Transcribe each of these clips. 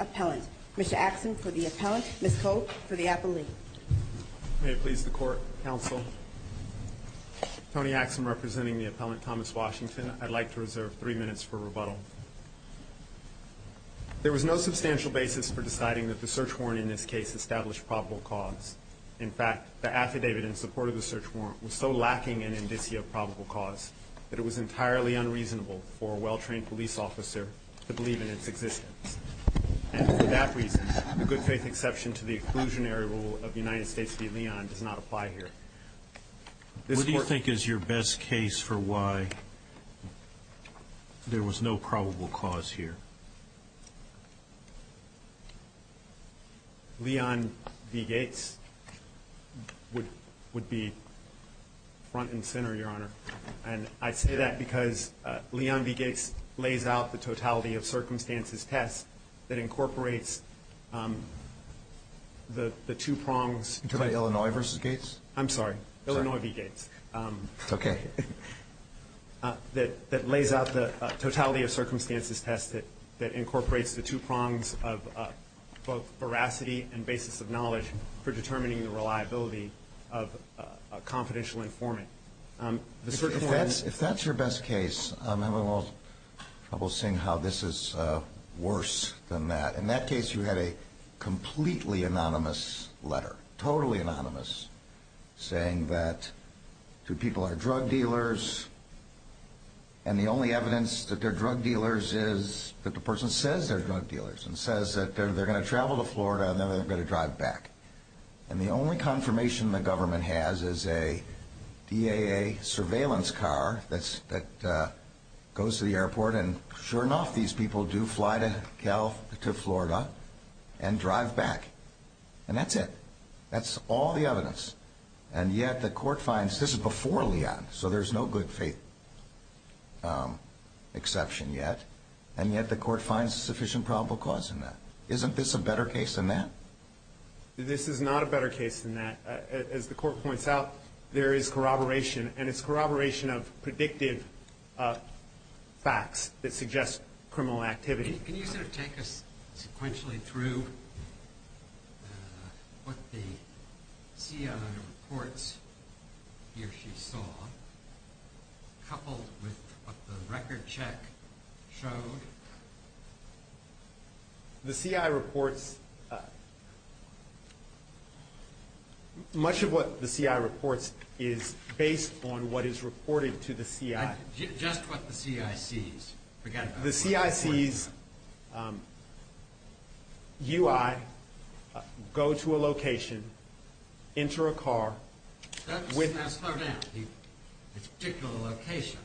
Appellant. Mr. Axsom for the Appellant. Ms. Cope for the Appellate. May it please the Court, Counsel. Tony Axsom representing the Appellant Thomas Washington. I'd like to reserve three minutes for rebuttal. There was no substantial basis for deciding that the search warrant in this case established probable cause. In fact, the affidavit in the search warrant was so lacking in indicia of probable cause that it was entirely unreasonable for a well-trained police officer to believe in its existence. And for that reason, a good-faith exception to the exclusionary rule of United States v. Leon does not apply here. What do you think is your best case for why there was no probable cause here? Leon v. Gates would be front and center, Your Honor. And I say that because Leon v. Gates lays out the totality of circumstances test that incorporates the two prongs. You're talking about Illinois v. Gates? I'm sorry. Illinois v. Gates. Okay. That lays out the totality of circumstances test that incorporates the two prongs of both veracity and basis of knowledge for determining the reliability of a confidential informant. If that's your best case, I'm having a little trouble seeing how this is worse than that. In that case, you had a completely anonymous letter, totally anonymous, saying that two people are drug dealers, and the only evidence that they're drug dealers is that the person says they're drug dealers and says that they're going to travel to Florida and then they're going to drive back. And the only confirmation the government has is a DAA surveillance car that goes to the airport, and sure enough, these people do fly to Florida and drive back. And that's it. That's all the evidence. And yet the court finds this is before Leon, so there's no good faith exception yet. And yet the court finds sufficient probable cause in that. Isn't this a better case than that? This is not a better case than that. As the court points out, there is corroboration, and it's corroboration of predictive facts that suggest criminal activity. Can you sort of take us sequentially through what the CI reports he or she saw, coupled with what the record check showed? The CI reports, much of what the CI reports is based on what is reported to the CI. Just what the CI sees. The CI sees you, I, go to a location, enter a car. Slow down. It's a particular location,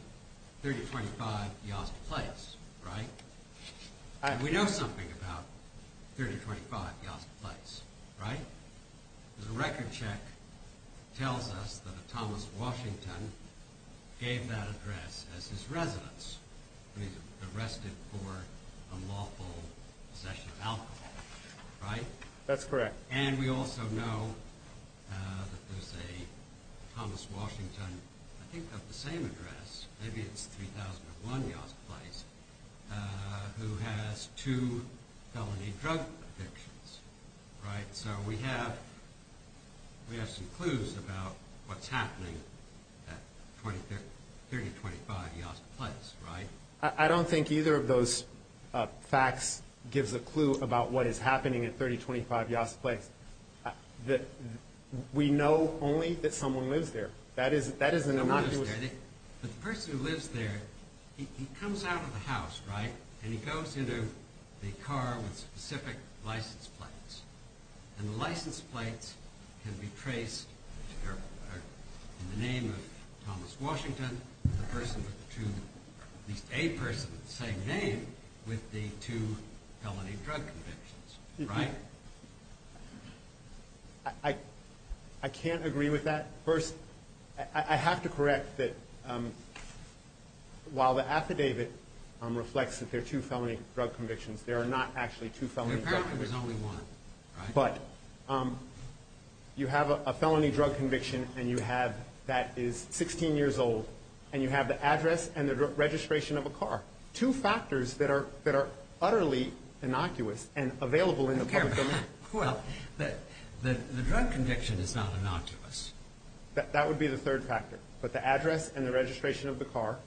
3025 Yazd Place, right? We know something about 3025 Yazd Place, right? The record check tells us that a Thomas Washington gave that address as his residence, when he was arrested for unlawful possession of alcohol, right? That's correct. And we also know that there's a Thomas Washington, I think of the same address, maybe it's 3001 Yazd Place, who has two felony drug addictions, right? So we have some clues about what's happening at 3025 Yazd Place, right? I don't think either of those facts gives a clue about what is happening at 3025 Yazd Place. We know only that someone lives there. That is an innocuous... But the person who lives there, he comes out of the house, right? And he goes into the car with specific license plates. And the license plates can be traced in the name of Thomas Washington, the person with the two, at least a person with the same name, with the two felony drug convictions, right? I can't agree with that. First, I have to correct that while the affidavit reflects that there are two felony drug convictions, there are not actually two felony drug convictions. Apparently there's only one, right? But you have a felony drug conviction that is 16 years old, and you have the address and the registration of a car, two factors that are utterly innocuous and available in the public domain. Well, the drug conviction is not innocuous. That would be the third factor. But the address and the registration of the car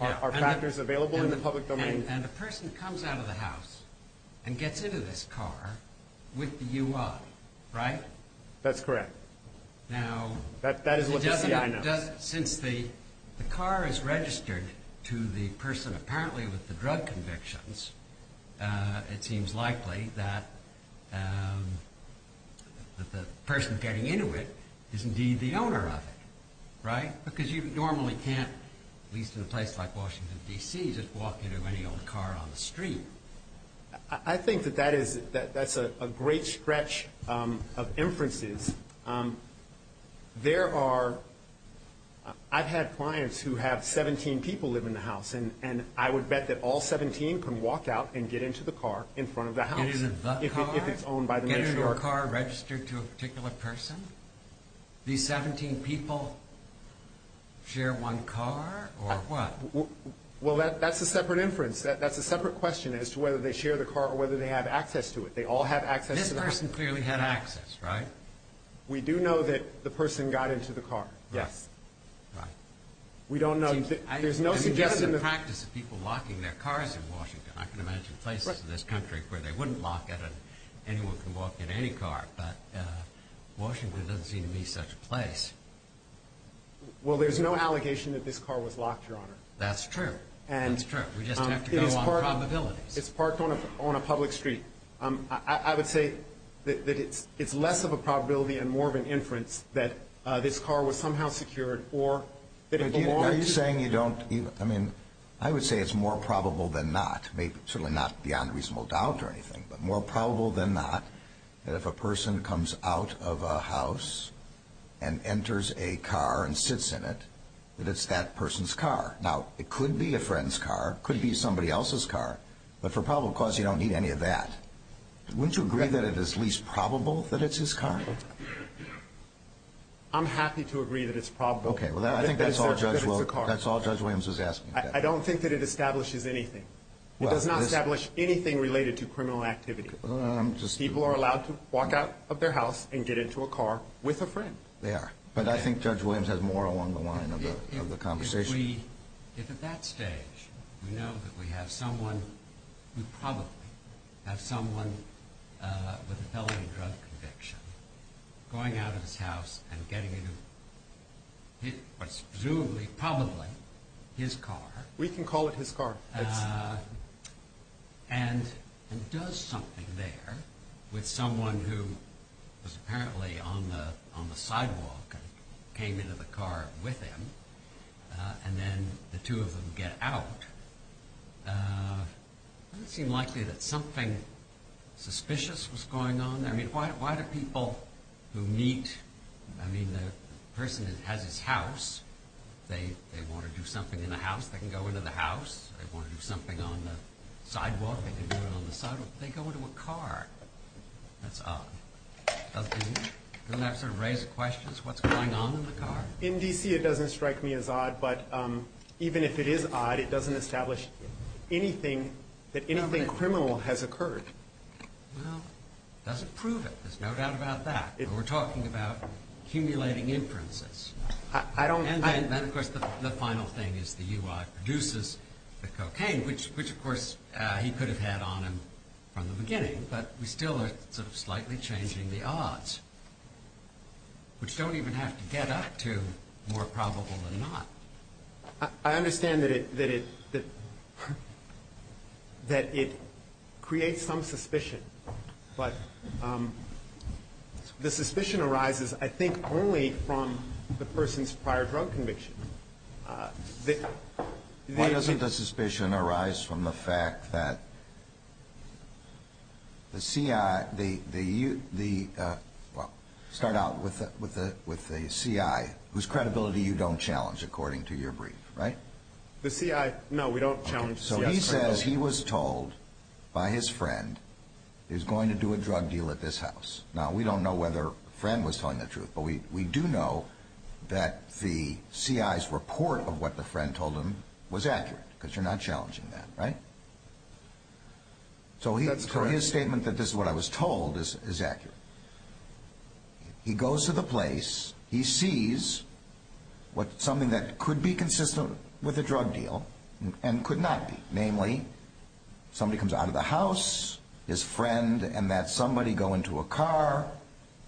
are factors available in the public domain. And the person comes out of the house and gets into this car with the UI, right? That's correct. Now... That is what the CI knows. Since the car is registered to the person apparently with the drug convictions, it seems likely that the person getting into it is indeed the owner of it, right? Because you normally can't, at least in a place like Washington, D.C., just walk into any old car on the street. I think that that's a great stretch of inferences. There are... I've had clients who have 17 people live in the house, and I would bet that all 17 can walk out and get into the car in front of the house. It isn't the car? If it's owned by the nature of... Isn't the car registered to a particular person? These 17 people share one car or what? Well, that's a separate inference. That's a separate question as to whether they share the car or whether they have access to it. They all have access to the car. This person clearly had access, right? We do know that the person got into the car, yes. Right. We don't know. There's no suggestion that... I mean, that's the practice of people locking their cars in Washington. I can imagine places in this country where they wouldn't lock it and anyone can walk in any car. But Washington doesn't seem to be such a place. Well, there's no allegation that this car was locked, Your Honor. That's true. That's true. We just have to go on probabilities. It's parked on a public street. I would say that it's less of a probability and more of an inference that this car was somehow secured or that it belonged. Are you saying you don't... I mean, I would say it's more probable than not, certainly not beyond reasonable doubt or anything, but more probable than not that if a person comes out of a house and enters a car and sits in it, that it's that person's car. Now, it could be a friend's car. It could be somebody else's car. But for probable cause, you don't need any of that. Wouldn't you agree that it is least probable that it's his car? I'm happy to agree that it's probable. Okay, well, I think that's all Judge Williams is asking. I don't think that it establishes anything. It does not establish anything related to criminal activity. People are allowed to walk out of their house and get into a car with a friend. They are. But I think Judge Williams has more along the line of the conversation. If at that stage we know that we have someone, we probably have someone with a felony drug conviction, going out of his house and getting into presumably, probably, his car. We can call it his car. And he does something there with someone who was apparently on the sidewalk and came into the car with him. And then the two of them get out. Doesn't it seem likely that something suspicious was going on there? I mean, why do people who meet, I mean, the person has his house. They want to do something in the house. They can go into the house. They want to do something on the sidewalk. They can do it on the sidewalk. They go into a car. That's odd. Doesn't that sort of raise questions? What's going on in the car? In D.C. it doesn't strike me as odd. But even if it is odd, it doesn't establish anything that anything criminal has occurred. Well, it doesn't prove it. There's no doubt about that. We're talking about accumulating inferences. And then, of course, the final thing is the UI produces the cocaine, which, of course, he could have had on him from the beginning. But we still are sort of slightly changing the odds, which don't even have to get up to more probable than not. I understand that it creates some suspicion. But the suspicion arises, I think, only from the person's prior drug conviction. Why doesn't the suspicion arise from the fact that the C.I. Well, start out with the C.I., whose credibility you don't challenge, according to your brief, right? The C.I. No, we don't challenge the C.I.'s credibility. He says he was told by his friend he was going to do a drug deal at this house. Now, we don't know whether the friend was telling the truth, but we do know that the C.I.'s report of what the friend told him was accurate, because you're not challenging that, right? That's correct. So his statement that this is what I was told is accurate. He goes to the place, he sees something that could be consistent with a drug deal and could not be. Namely, somebody comes out of the house, his friend, and that somebody go into a car.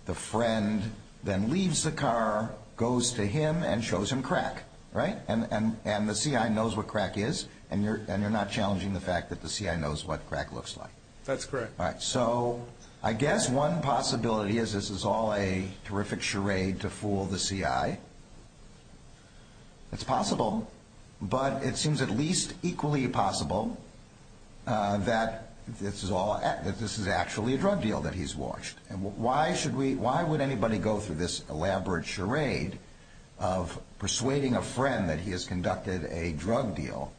The friend then leaves the car, goes to him, and shows him crack, right? And the C.I. knows what crack is, and you're not challenging the fact that the C.I. knows what crack looks like. That's correct. All right, so I guess one possibility is this is all a terrific charade to fool the C.I. It's possible, but it seems at least equally possible that this is actually a drug deal that he's watched. And why would anybody go through this elaborate charade of persuading a friend that he has conducted a drug deal?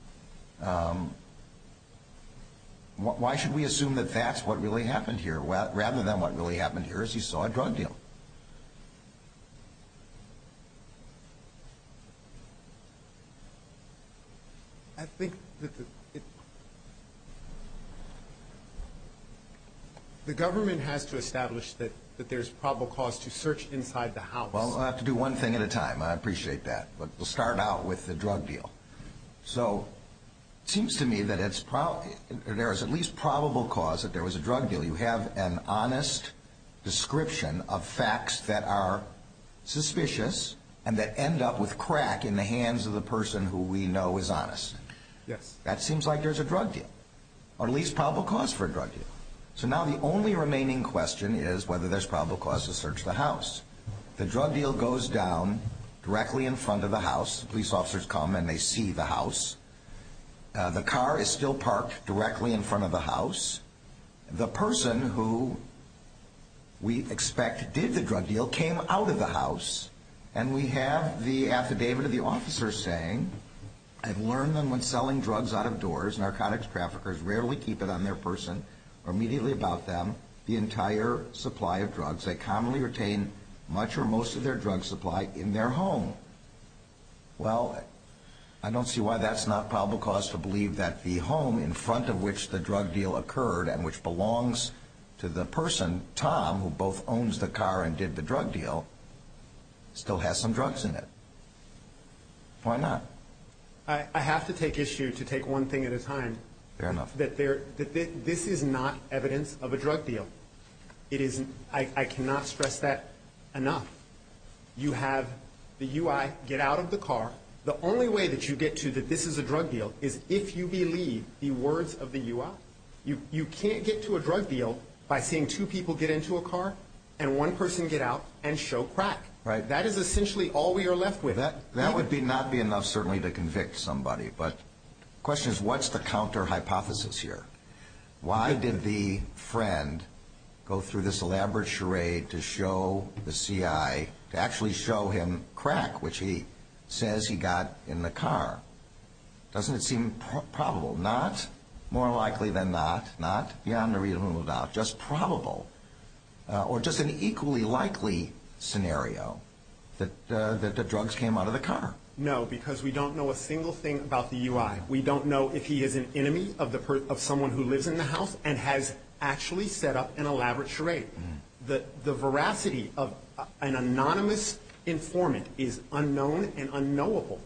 Why should we assume that that's what really happened here, rather than what really happened here is he saw a drug deal? I think that the government has to establish that there's probable cause to search inside the house. Well, we'll have to do one thing at a time. I appreciate that. But we'll start out with the drug deal. So it seems to me that there is at least probable cause that there was a drug deal. You have an honest description of facts that are suspicious and that end up with crack in the hands of the person who we know is honest. Yes. That seems like there's a drug deal, or at least probable cause for a drug deal. So now the only remaining question is whether there's probable cause to search the house. The drug deal goes down directly in front of the house. Police officers come and they see the house. The car is still parked directly in front of the house. The person who we expect did the drug deal came out of the house. And we have the affidavit of the officer saying, I've learned that when selling drugs out of doors, narcotics traffickers rarely keep it on their person or immediately about them, the entire supply of drugs. They commonly retain much or most of their drug supply in their home. Well, I don't see why that's not probable cause to believe that the home in front of which the drug deal occurred and which belongs to the person, Tom, who both owns the car and did the drug deal, still has some drugs in it. Why not? I have to take issue to take one thing at a time. Fair enough. This is not evidence of a drug deal. I cannot stress that enough. You have the U.I. get out of the car. The only way that you get to that this is a drug deal is if you believe the words of the U.I. You can't get to a drug deal by seeing two people get into a car and one person get out and show crack. That is essentially all we are left with. That would not be enough, certainly, to convict somebody. But the question is, what's the counter hypothesis here? Why did the friend go through this elaborate charade to show the C.I., to actually show him crack, which he says he got in the car? Doesn't it seem probable? Not more likely than not, not beyond a reasonable doubt, just probable or just an equally likely scenario that the drugs came out of the car. No, because we don't know a single thing about the U.I. We don't know if he is an enemy of someone who lives in the house and has actually set up an elaborate charade. The veracity of an anonymous informant is unknown and unknowable.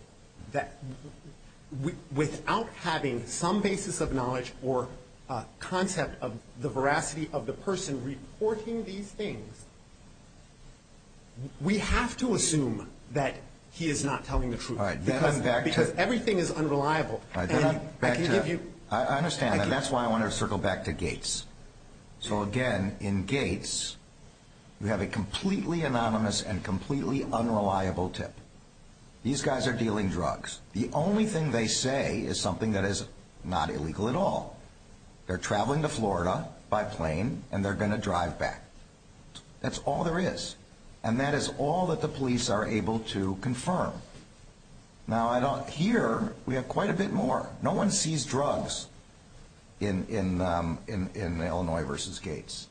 Without having some basis of knowledge or concept of the veracity of the person reporting these things, we have to assume that he is not telling the truth. Because everything is unreliable. I understand that. That's why I want to circle back to Gates. So, again, in Gates, we have a completely anonymous and completely unreliable tip. These guys are dealing drugs. The only thing they say is something that is not illegal at all. They're traveling to Florida by plane, and they're going to drive back. That's all there is. And that is all that the police are able to confirm. Now, here, we have quite a bit more. No one sees drugs in Illinois versus Gates.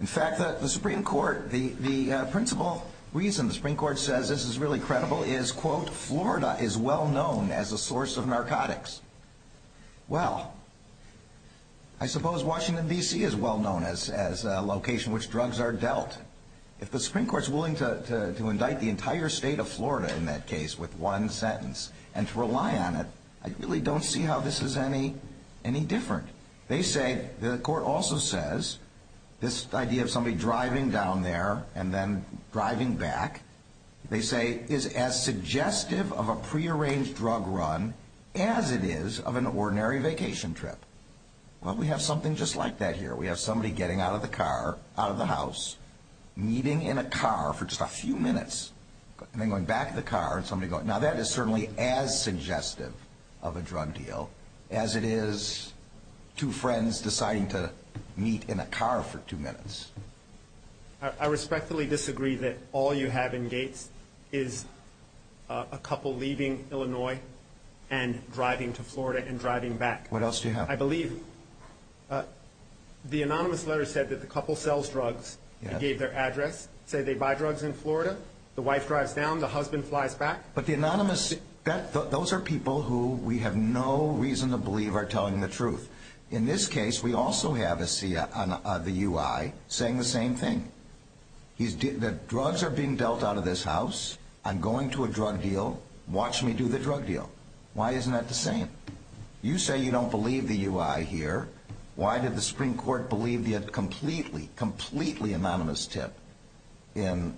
In fact, the Supreme Court, the principal reason the Supreme Court says this is really credible is, quote, Florida is well known as a source of narcotics. Well, I suppose Washington, D.C. is well known as a location which drugs are dealt. If the Supreme Court is willing to indict the entire state of Florida in that case with one sentence and to rely on it, I really don't see how this is any different. They say, the court also says, this idea of somebody driving down there and then driving back, they say, is as suggestive of a prearranged drug run as it is of an ordinary vacation trip. Well, we have something just like that here. We have somebody getting out of the car, out of the house, meeting in a car for just a few minutes, and then going back in the car and somebody going, now, that is certainly as suggestive of a drug deal as it is two friends deciding to meet in a car for two minutes. I respectfully disagree that all you have in Gates is a couple leaving Illinois and driving to Florida and driving back. What else do you have? I believe the anonymous letter said that the couple sells drugs. It gave their address. It said they buy drugs in Florida. The wife drives down. The husband flies back. But the anonymous, those are people who we have no reason to believe are telling the truth. In this case, we also have the UI saying the same thing. The drugs are being dealt out of this house. I'm going to a drug deal. Watch me do the drug deal. Why isn't that the same? You say you don't believe the UI here. Why did the Supreme Court believe the completely, completely anonymous tip in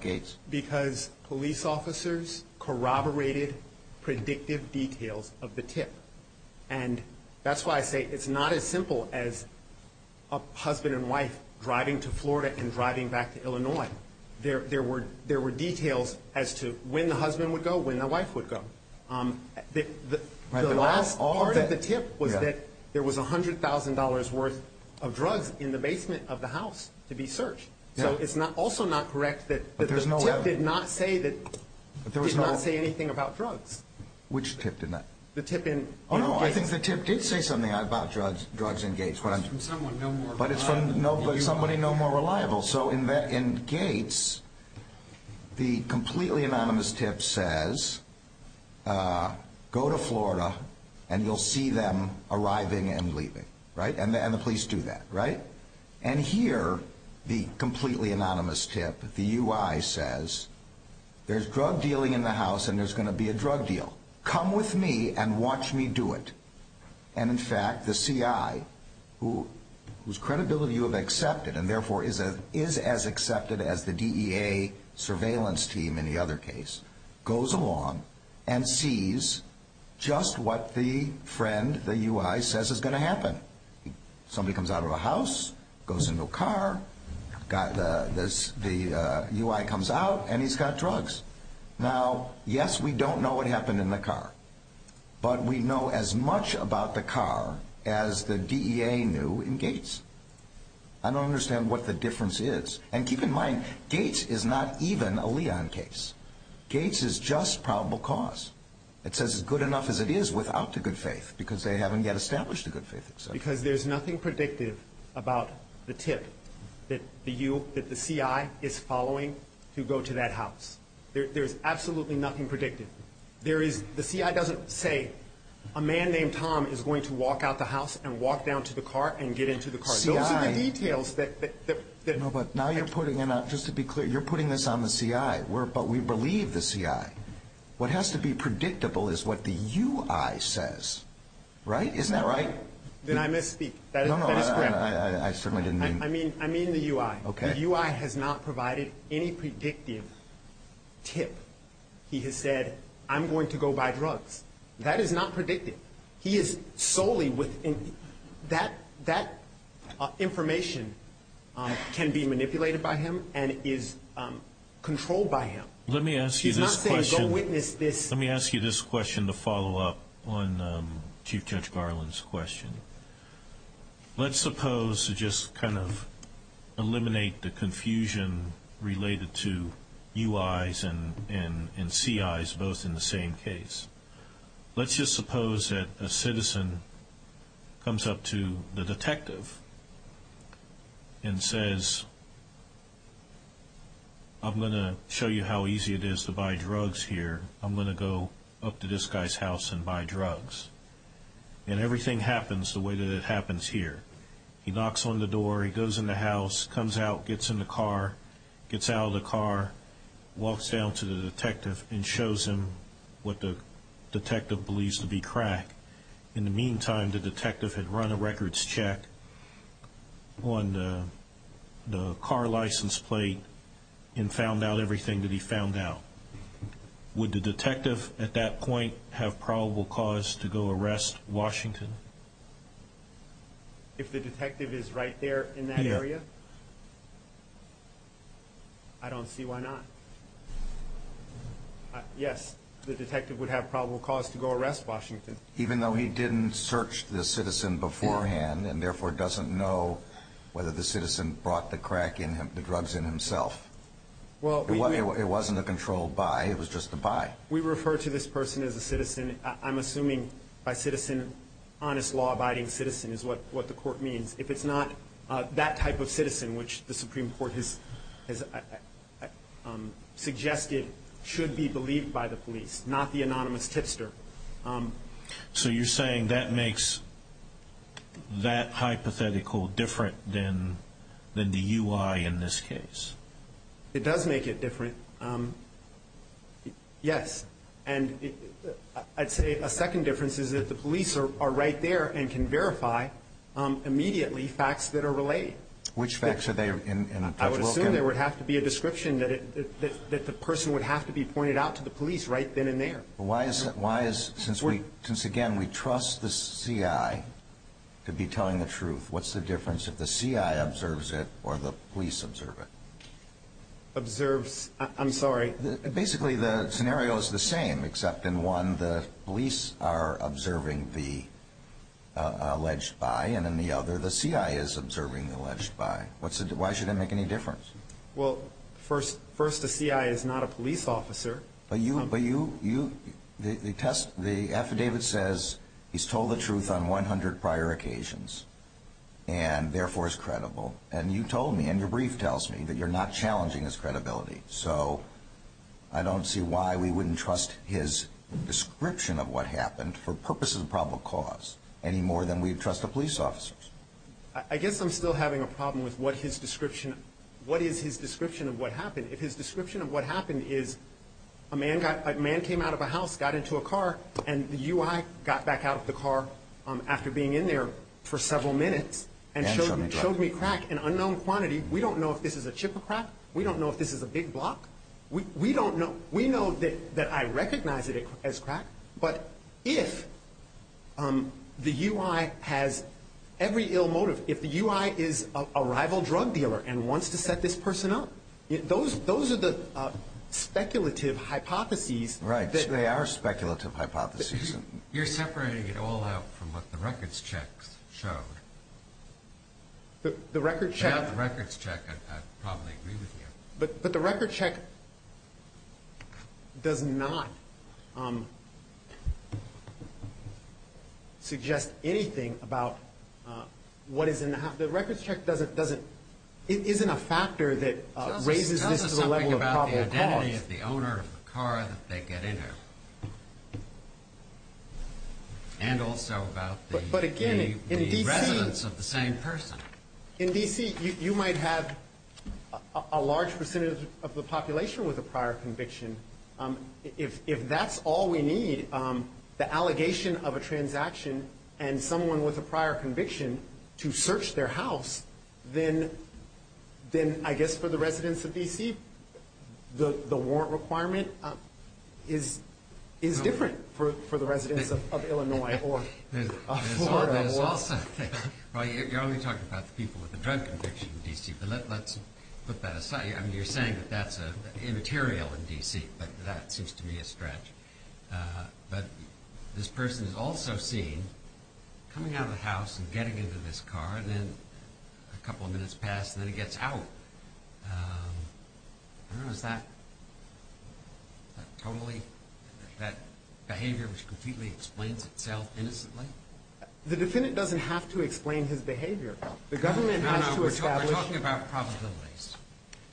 Gates? Because police officers corroborated predictive details of the tip. And that's why I say it's not as simple as a husband and wife driving to Florida and driving back to Illinois. There were details as to when the husband would go, when the wife would go. The last part of the tip was that there was $100,000 worth of drugs in the basement of the house to be searched. So it's also not correct that the tip did not say anything about drugs. Which tip did not? The tip in Gates. I think the tip did say something about drugs in Gates. But it's from somebody no more reliable. So in Gates, the completely anonymous tip says, go to Florida and you'll see them arriving and leaving. And the police do that. And here, the completely anonymous tip, the UI says, there's drug dealing in the house and there's going to be a drug deal. Come with me and watch me do it. And in fact, the CI, whose credibility you have accepted and therefore is as accepted as the DEA surveillance team in the other case, goes along and sees just what the friend, the UI, says is going to happen. Somebody comes out of a house, goes into a car, the UI comes out and he's got drugs. Now, yes, we don't know what happened in the car. But we know as much about the car as the DEA knew in Gates. I don't understand what the difference is. And keep in mind, Gates is not even a Leon case. Gates is just probable cause. It says as good enough as it is without the good faith because they haven't yet established the good faith. Because there's nothing predictive about the tip that the CI is following to go to that house. There's absolutely nothing predictive. There is, the CI doesn't say a man named Tom is going to walk out the house and walk down to the car and get into the car. Those are the details that- No, but now you're putting, just to be clear, you're putting this on the CI. But we believe the CI. What has to be predictable is what the UI says. Right? Isn't that right? Did I misspeak? No, no, I certainly didn't mean- I mean the UI. Okay. The UI has not provided any predictive tip. He has said, I'm going to go buy drugs. That is not predictive. He is solely within, that information can be manipulated by him and is controlled by him. Let me ask you this question- He's not saying go witness this- Let me ask you this question to follow up on Chief Judge Garland's question. Let's suppose to just kind of eliminate the confusion related to UIs and CIs both in the same case. Let's just suppose that a citizen comes up to the detective and says, I'm going to show you how easy it is to buy drugs here. I'm going to go up to this guy's house and buy drugs. And everything happens the way that it happens here. He knocks on the door, he goes in the house, comes out, gets in the car, gets out of the car, walks down to the detective and shows him what the detective believes to be crack. In the meantime, the detective had run a records check on the car license plate and found out everything that he found out. Would the detective at that point have probable cause to go arrest Washington? If the detective is right there in that area? Yeah. I don't see why not. Yes, the detective would have probable cause to go arrest Washington. Even though he didn't search the citizen beforehand and therefore doesn't know whether the citizen brought the drugs in himself. It wasn't a controlled buy, it was just a buy. We refer to this person as a citizen. I'm assuming by citizen, honest, law-abiding citizen is what the court means. If it's not that type of citizen, which the Supreme Court has suggested should be believed by the police, not the anonymous tipster. So you're saying that makes that hypothetical different than the UI in this case? It does make it different, yes. And I'd say a second difference is that the police are right there and can verify immediately facts that are related. Which facts are they? I would assume there would have to be a description that the person would have to be pointed out to the police right then and there. Since, again, we trust the CI to be telling the truth, what's the difference if the CI observes it or the police observe it? Observes, I'm sorry? Basically the scenario is the same, except in one the police are observing the alleged buy and in the other the CI is observing the alleged buy. Why should it make any difference? Well, first the CI is not a police officer. But you, the affidavit says he's told the truth on 100 prior occasions and therefore is credible. And you told me and your brief tells me that you're not challenging his credibility. So I don't see why we wouldn't trust his description of what happened for purposes of probable cause any more than we'd trust the police officers. I guess I'm still having a problem with what his description, what is his description of what happened? If his description of what happened is a man came out of a house, got into a car, and the UI got back out of the car after being in there for several minutes and showed me crack in unknown quantity. We don't know if this is a chip or crack. We don't know if this is a big block. We don't know. We know that I recognize it as crack. But if the UI has every ill motive, if the UI is a rival drug dealer and wants to set this person up, those are the speculative hypotheses. Right. They are speculative hypotheses. You're separating it all out from what the records check showed. The records check. Without the records check, I'd probably agree with you. But the records check does not suggest anything about what is in the house. The records check doesn't, it isn't a factor that raises this to the level of probable cause. Tell us something about the identity of the owner of the car that they get in here. And also about the residence of the same person. In D.C., you might have a large percentage of the population with a prior conviction. If that's all we need, the allegation of a transaction and someone with a prior conviction to search their house, then I guess for the residents of D.C., the warrant requirement is different for the residents of Illinois or Florida. You're only talking about the people with a drug conviction in D.C., but let's put that aside. You're saying that that's immaterial in D.C., but that seems to me a stretch. But this person is also seen coming out of the house and getting into this car, and then a couple of minutes pass and then he gets out. I don't know, is that totally that behavior which completely explains itself innocently? The defendant doesn't have to explain his behavior. No, no, we're talking about probabilities.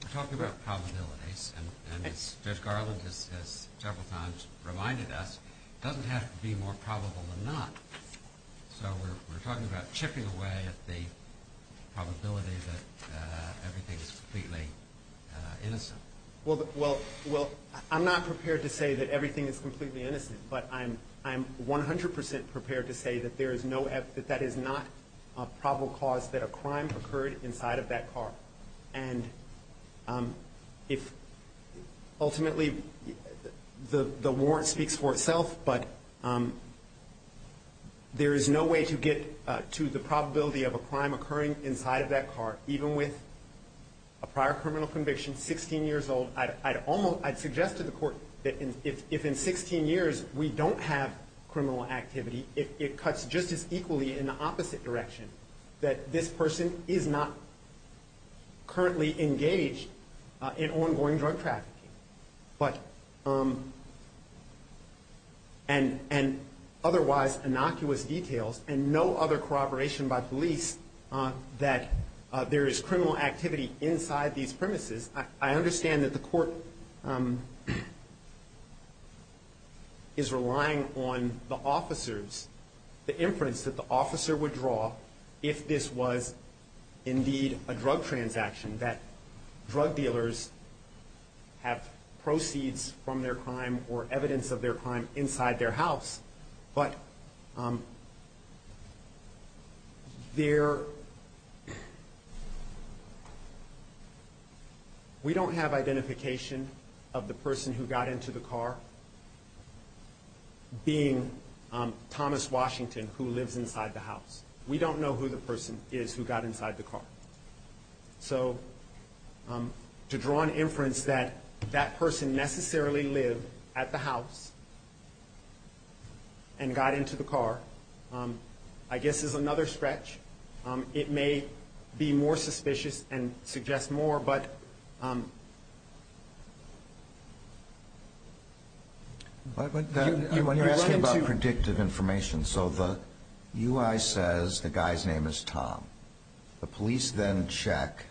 We're talking about probabilities, and Judge Garland has several times reminded us it doesn't have to be more probable than not. So we're talking about chipping away at the probability that everything is completely innocent. Well, I'm not prepared to say that everything is completely innocent, but I'm 100 percent prepared to say that that is not a probable cause that a crime occurred inside of that car. And ultimately, the warrant speaks for itself, but there is no way to get to the probability of a crime occurring inside of that car, even with a prior criminal conviction, 16 years old. I'd suggest to the court that if in 16 years we don't have criminal activity, it cuts just as equally in the opposite direction, that this person is not currently engaged in ongoing drug trafficking. But, and otherwise innocuous details and no other corroboration by police that there is criminal activity inside these premises. I understand that the court is relying on the officers, the inference that the officer would draw if this was indeed a drug transaction, that drug dealers have proceeds from their crime or evidence of their crime inside their house. But there, we don't have identification of the person who got into the car being Thomas Washington, who lives inside the house. We don't know who the person is who got inside the car. So to draw an inference that that person necessarily lived at the house and got into the car, I guess, is another stretch. It may be more suspicious and suggest more, but. But when you're asking about predictive information, so the UI says the guy's name is Tom. The police then check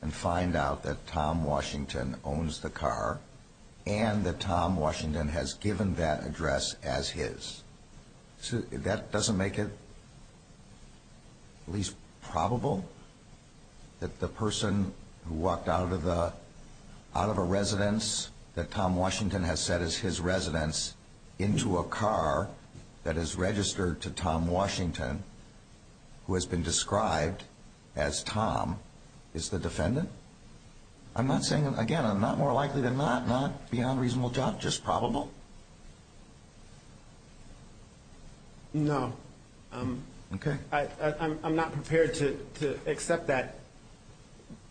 and find out that Tom Washington owns the car and that Tom Washington has given that address as his. That doesn't make it at least probable that the person who walked out of the out of a residence that Tom Washington has said is his residence into a car that is registered to Tom Washington, who has been described as Tom, is the defendant. I'm not saying, again, I'm not more likely than not, not beyond reasonable doubt, just probable. No, I'm not prepared to accept that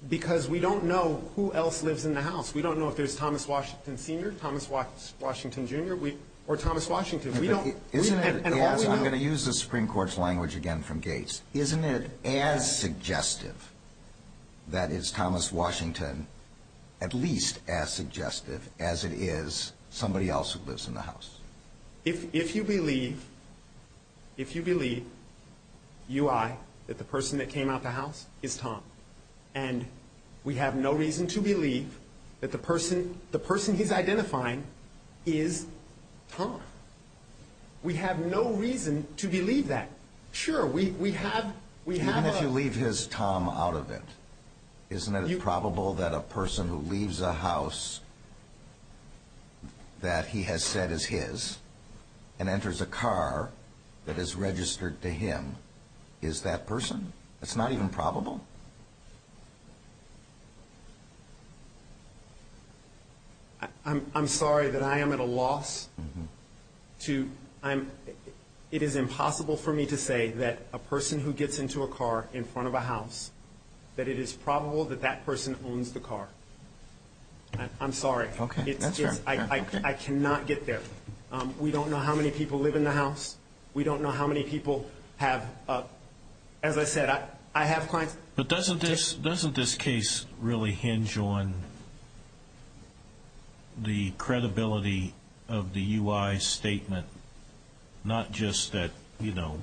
because we don't know who else lives in the house. We don't know if there's Thomas Washington, Sr., Thomas Washington, Jr. or Thomas Washington. I'm going to use the Supreme Court's language again from Gates. Isn't it as suggestive that it's Thomas Washington, at least as suggestive as it is somebody else who lives in the house? If you believe, if you believe, UI, that the person that came out the house is Tom, and we have no reason to believe that the person he's identifying is Tom, we have no reason to believe that. Even if you leave his Tom out of it, isn't it probable that a person who leaves a house that he has said is his and enters a car that is registered to him is that person? It's not even probable? I'm sorry that I am at a loss to, it is impossible for me to say that a person who gets into a car in front of a house, that it is probable that that person owns the car. I'm sorry. Okay, that's fair. I cannot get there. We don't know how many people live in the house. We don't know how many people have, as I said, I have clients. But doesn't this case really hinge on the credibility of the UI statement, not just that, you know,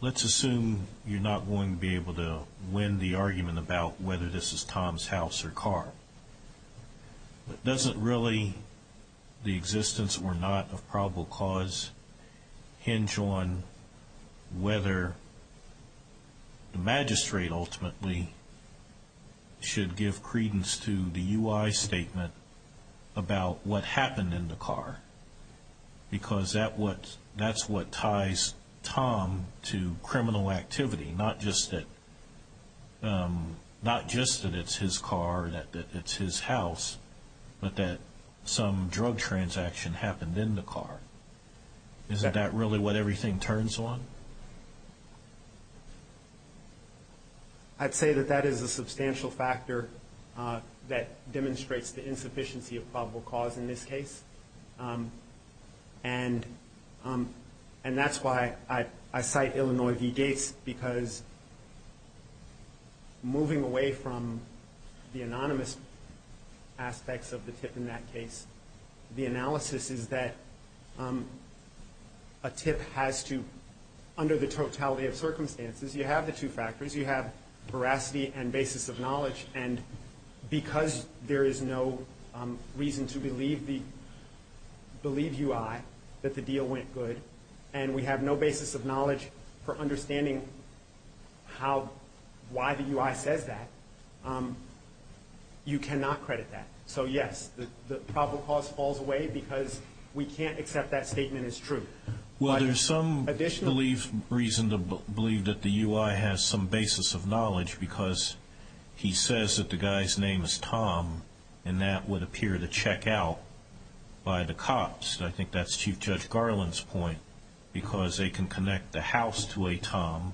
let's assume you're not going to be able to win the argument about whether this is Tom's house or car. Doesn't really the existence or not of probable cause hinge on whether the magistrate ultimately should give credence to the UI statement about what happened in the car? Because that's what ties Tom to criminal activity, not just that it's his car, that it's his house, but that some drug transaction happened in the car. Is that really what everything turns on? I'd say that that is a substantial factor that demonstrates the insufficiency of probable cause in this case. And that's why I cite Illinois v. Gates, because moving away from the anonymous aspects of the tip in that case, the analysis is that a tip has to, under the totality of circumstances, you have the two factors. You have veracity and basis of knowledge. And because there is no reason to believe UI that the deal went good, and we have no basis of knowledge for understanding how, why the UI says that, you cannot credit that. So, yes, the probable cause falls away because we can't accept that statement as true. Well, there's some additional reason to believe that the UI has some basis of knowledge, because he says that the guy's name is Tom, and that would appear to check out by the cops. I think that's Chief Judge Garland's point, because they can connect the house to a Tom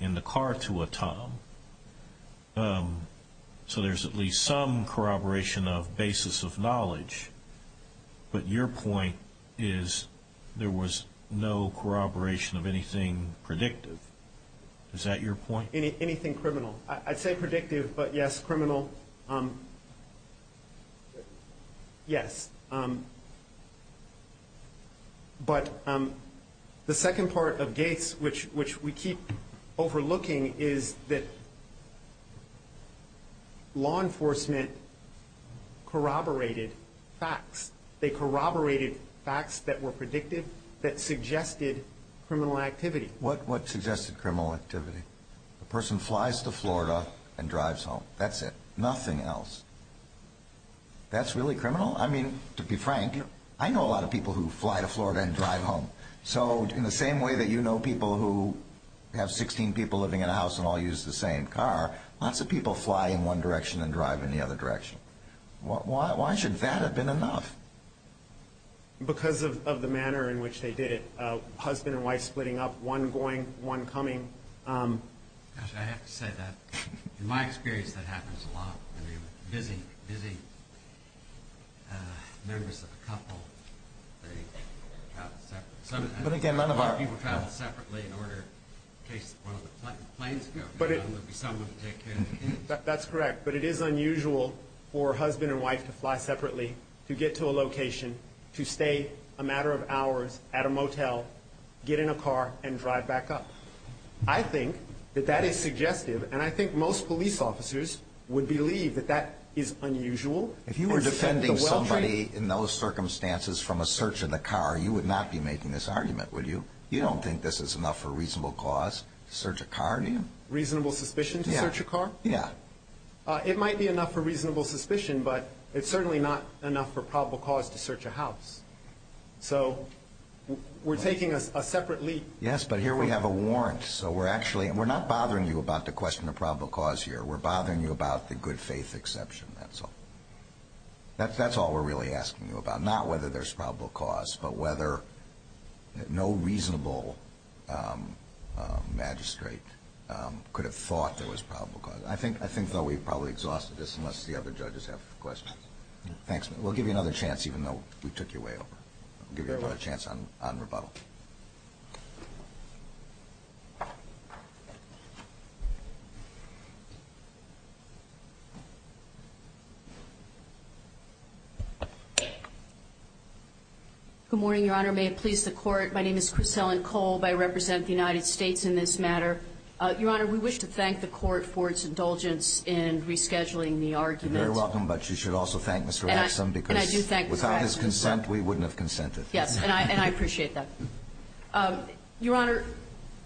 and the car to a Tom. So there's at least some corroboration of basis of knowledge, but your point is there was no corroboration of anything predictive. Is that your point? Anything criminal. I'd say predictive, but, yes, criminal, yes. But the second part of Gates, which we keep overlooking, is that law enforcement corroborated facts. They corroborated facts that were predictive that suggested criminal activity. What suggested criminal activity? A person flies to Florida and drives home. That's it. Nothing else. That's really criminal? Well, I mean, to be frank, I know a lot of people who fly to Florida and drive home. So in the same way that you know people who have 16 people living in a house and all use the same car, lots of people fly in one direction and drive in the other direction. Why should that have been enough? Because of the manner in which they did it, husband and wife splitting up, one going, one coming. I have to say that in my experience that happens a lot. I mean, busy, busy members of a couple, they travel separately. A lot of people travel separately in order in case one of the planes goes down, there will be someone to take care of the kids. That's correct. But it is unusual for a husband and wife to fly separately, to get to a location, to stay a matter of hours at a motel, get in a car, and drive back up. I think that that is suggestive, and I think most police officers would believe that that is unusual. If you were defending somebody in those circumstances from a search of the car, you would not be making this argument, would you? You don't think this is enough for a reasonable cause to search a car, do you? Reasonable suspicion to search a car? Yeah. It might be enough for reasonable suspicion, but it's certainly not enough for probable cause to search a house. So we're taking a separate leap. Yes, but here we have a warrant, so we're not bothering you about the question of probable cause here. We're bothering you about the good faith exception. That's all we're really asking you about, not whether there's probable cause, but whether no reasonable magistrate could have thought there was probable cause. I think, though, we've probably exhausted this unless the other judges have questions. Thanks. We'll give you another chance, even though we took your way over. We'll give you another chance on rebuttal. Good morning, Your Honor. May it please the Court. My name is Chris Ellen Cole. I represent the United States in this matter. Your Honor, we wish to thank the Court for its indulgence in rescheduling the argument. You're very welcome, but you should also thank Mr. Axsom because without his consent, we wouldn't have consented. Yes, and I appreciate that. Your Honor,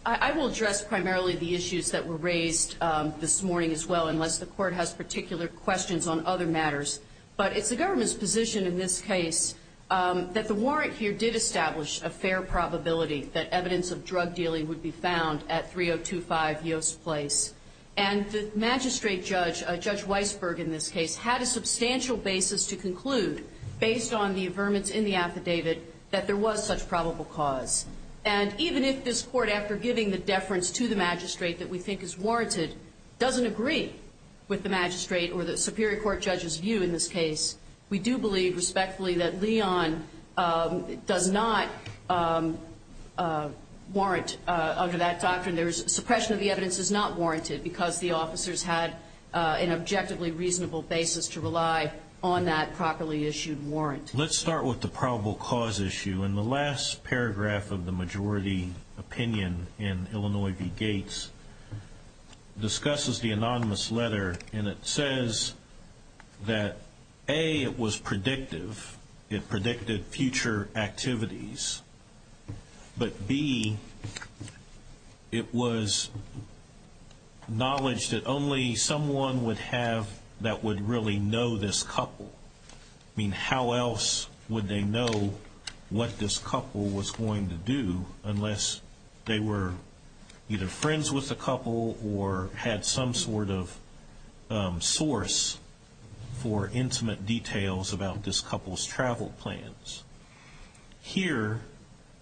I will address primarily the issues that were raised this morning as well, unless the Court has particular questions on other matters. But it's the government's position in this case that the warrant here did establish a fair probability that evidence of drug dealing would be found at 3025 Yost Place. And the magistrate judge, Judge Weisberg in this case, had a substantial basis to conclude, based on the affirmance in the affidavit, that there was such probable cause. And even if this Court, after giving the deference to the magistrate that we think is warranted, doesn't agree with the magistrate or the superior court judge's view in this case, we do believe respectfully that Leon does not warrant under that doctrine. Suppression of the evidence is not warranted because the officers had an objectively reasonable basis to rely on that properly issued warrant. Let's start with the probable cause issue. And the last paragraph of the majority opinion in Illinois v. Gates discusses the anonymous letter. And it says that, A, it was predictive. It predicted future activities. But, B, it was knowledge that only someone would have that would really know this couple. I mean, how else would they know what this couple was going to do unless they were either friends with the couple or had some sort of source for intimate details about this couple's travel plans. Here,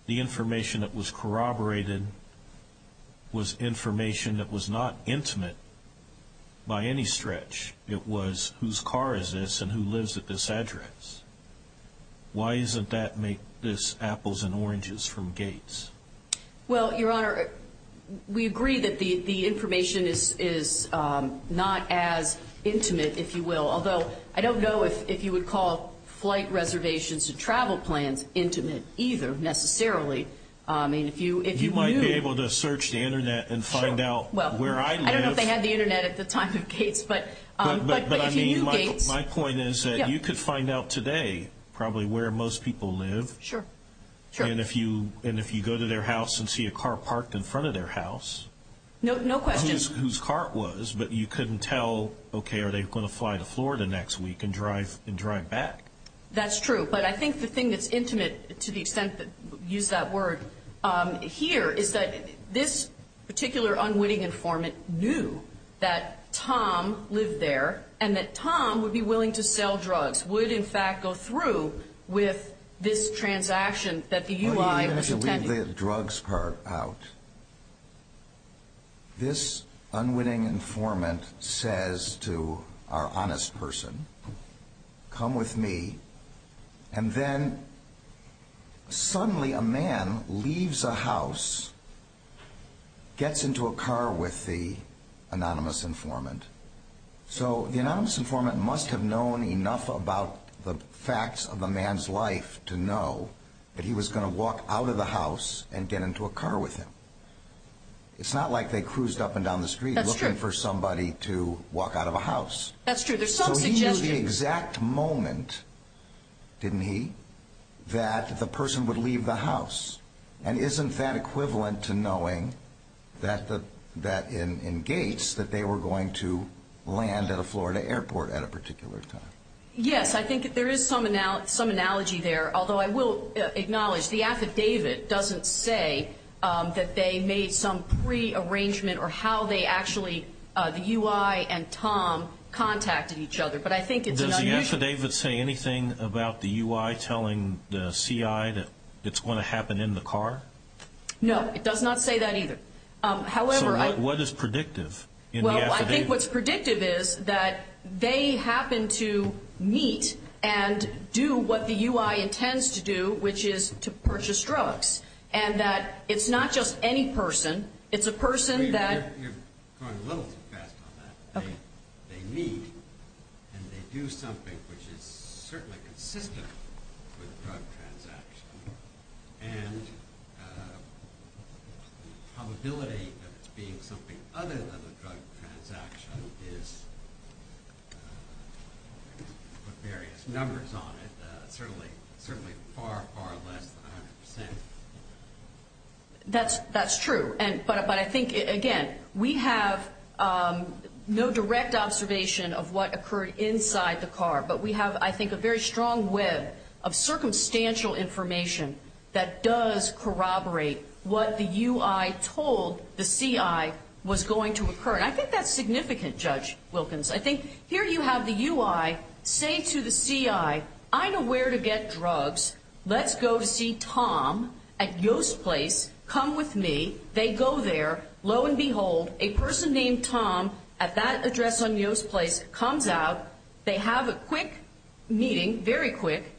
the information that was corroborated was information that was not intimate by any stretch. It was whose car is this and who lives at this address. Why doesn't that make this apples and oranges from Gates? Well, Your Honor, we agree that the information is not as intimate, if you will, although I don't know if you would call flight reservations and travel plans intimate either necessarily. You might be able to search the Internet and find out where I live. I don't know if they had the Internet at the time of Gates, but if you knew Gates. My point is that you could find out today probably where most people live. Sure. And if you go to their house and see a car parked in front of their house. No question. Whose car it was, but you couldn't tell, okay, are they going to fly to Florida next week and drive back? That's true. But I think the thing that's intimate, to the extent that we use that word here, is that this particular unwitting informant knew that Tom lived there and that Tom would be willing to sell drugs, would in fact go through with this transaction that the UI was attending. Let me just leave the drugs part out. This unwitting informant says to our honest person, come with me, and then suddenly a man leaves a house, gets into a car with the anonymous informant. So the anonymous informant must have known enough about the facts of the man's life to know that he was going to walk out of the house and get into a car with him. It's not like they cruised up and down the street looking for somebody to walk out of a house. That's true. So he knew the exact moment, didn't he, that the person would leave the house. And isn't that equivalent to knowing that in Gates that they were going to land at a Florida airport at a particular time? Yes, I think there is some analogy there, although I will acknowledge the affidavit doesn't say that they made some prearrangement or how they actually, the UI and Tom, contacted each other. But I think it's unusual. Does the affidavit say anything about the UI telling the CI that it's going to happen in the car? No, it does not say that either. So what is predictive in the affidavit? I think what's predictive is that they happen to meet and do what the UI intends to do, which is to purchase drugs, and that it's not just any person. It's a person that- You're going a little too fast on that. They meet and they do something which is certainly consistent with a drug transaction, and the probability that it's being something other than a drug transaction is, to put various numbers on it, certainly far, far less than 100%. That's true. But I think, again, we have no direct observation of what occurred inside the car, but we have, I think, a very strong web of circumstantial information that does corroborate what the UI told the CI was going to occur. And I think that's significant, Judge Wilkins. I think here you have the UI say to the CI, I know where to get drugs. Let's go see Tom at Yost Place. Come with me. They go there. Lo and behold, a person named Tom at that address on Yost Place comes out. They have a quick meeting, very quick,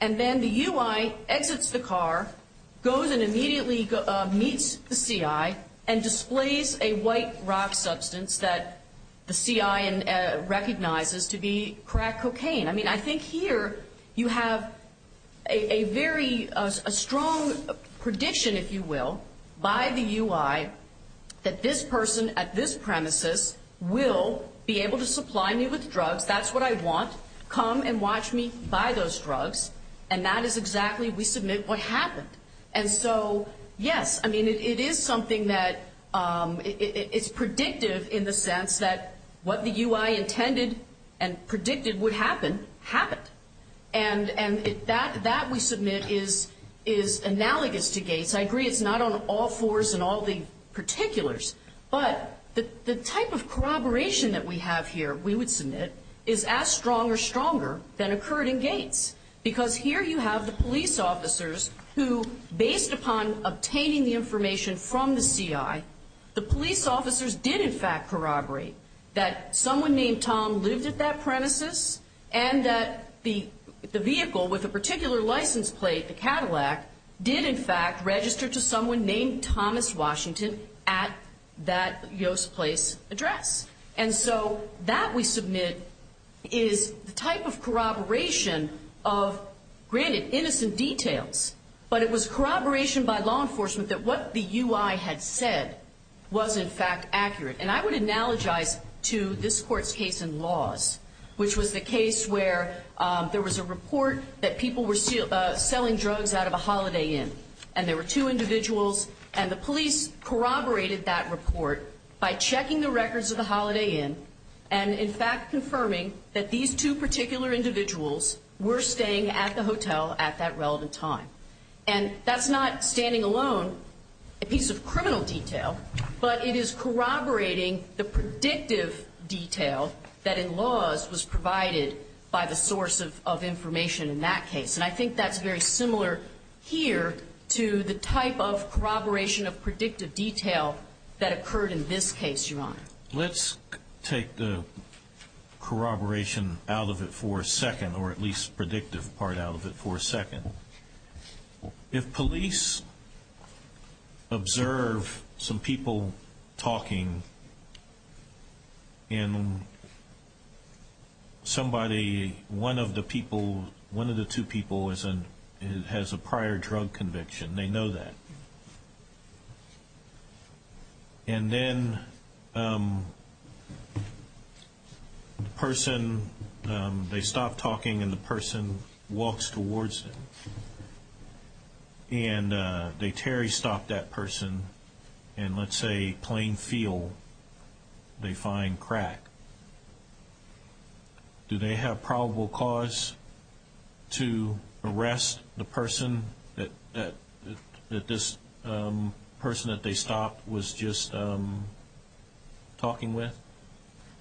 and then the UI exits the car, goes and immediately meets the CI, and displays a white rock substance that the CI recognizes to be crack cocaine. I mean, I think here you have a very strong prediction, if you will, by the UI, that this person at this premises will be able to supply me with drugs. That's what I want. Come and watch me buy those drugs. And that is exactly, we submit, what happened. And so, yes, I mean, it is something that is predictive in the sense that what the UI intended and predicted would happen, happened. And that, we submit, is analogous to Gates. I agree it's not on all fours and all the particulars, but the type of corroboration that we have here, we would submit, is as strong or stronger than occurred in Gates. Because here you have the police officers who, based upon obtaining the information from the CI, the police officers did, in fact, corroborate that someone named Tom lived at that premises and that the vehicle with a particular license plate, the Cadillac, did, in fact, register to someone named Thomas Washington at that Yost Place address. And so that, we submit, is the type of corroboration of, granted, innocent details, but it was corroboration by law enforcement that what the UI had said was, in fact, accurate. And I would analogize to this Court's case in laws, which was the case where there was a report that people were selling drugs out of a Holiday Inn. And there were two individuals, and the police corroborated that report by checking the records of the Holiday Inn and, in fact, confirming that these two particular individuals were staying at the hotel at that relevant time. And that's not, standing alone, a piece of criminal detail, but it is corroborating the predictive detail that, in laws, was provided by the source of information in that case. And I think that's very similar here to the type of corroboration of predictive detail that occurred in this case, Your Honor. Let's take the corroboration out of it for a second, or at least predictive part out of it for a second. If police observe some people talking and somebody, one of the people, one of the two people has a prior drug conviction, they know that. And then the person, they stop talking and the person walks towards them. And they terry-stop that person, and let's say, plain feel, they find crack. Do they have probable cause to arrest the person that this person that they stopped was just talking with?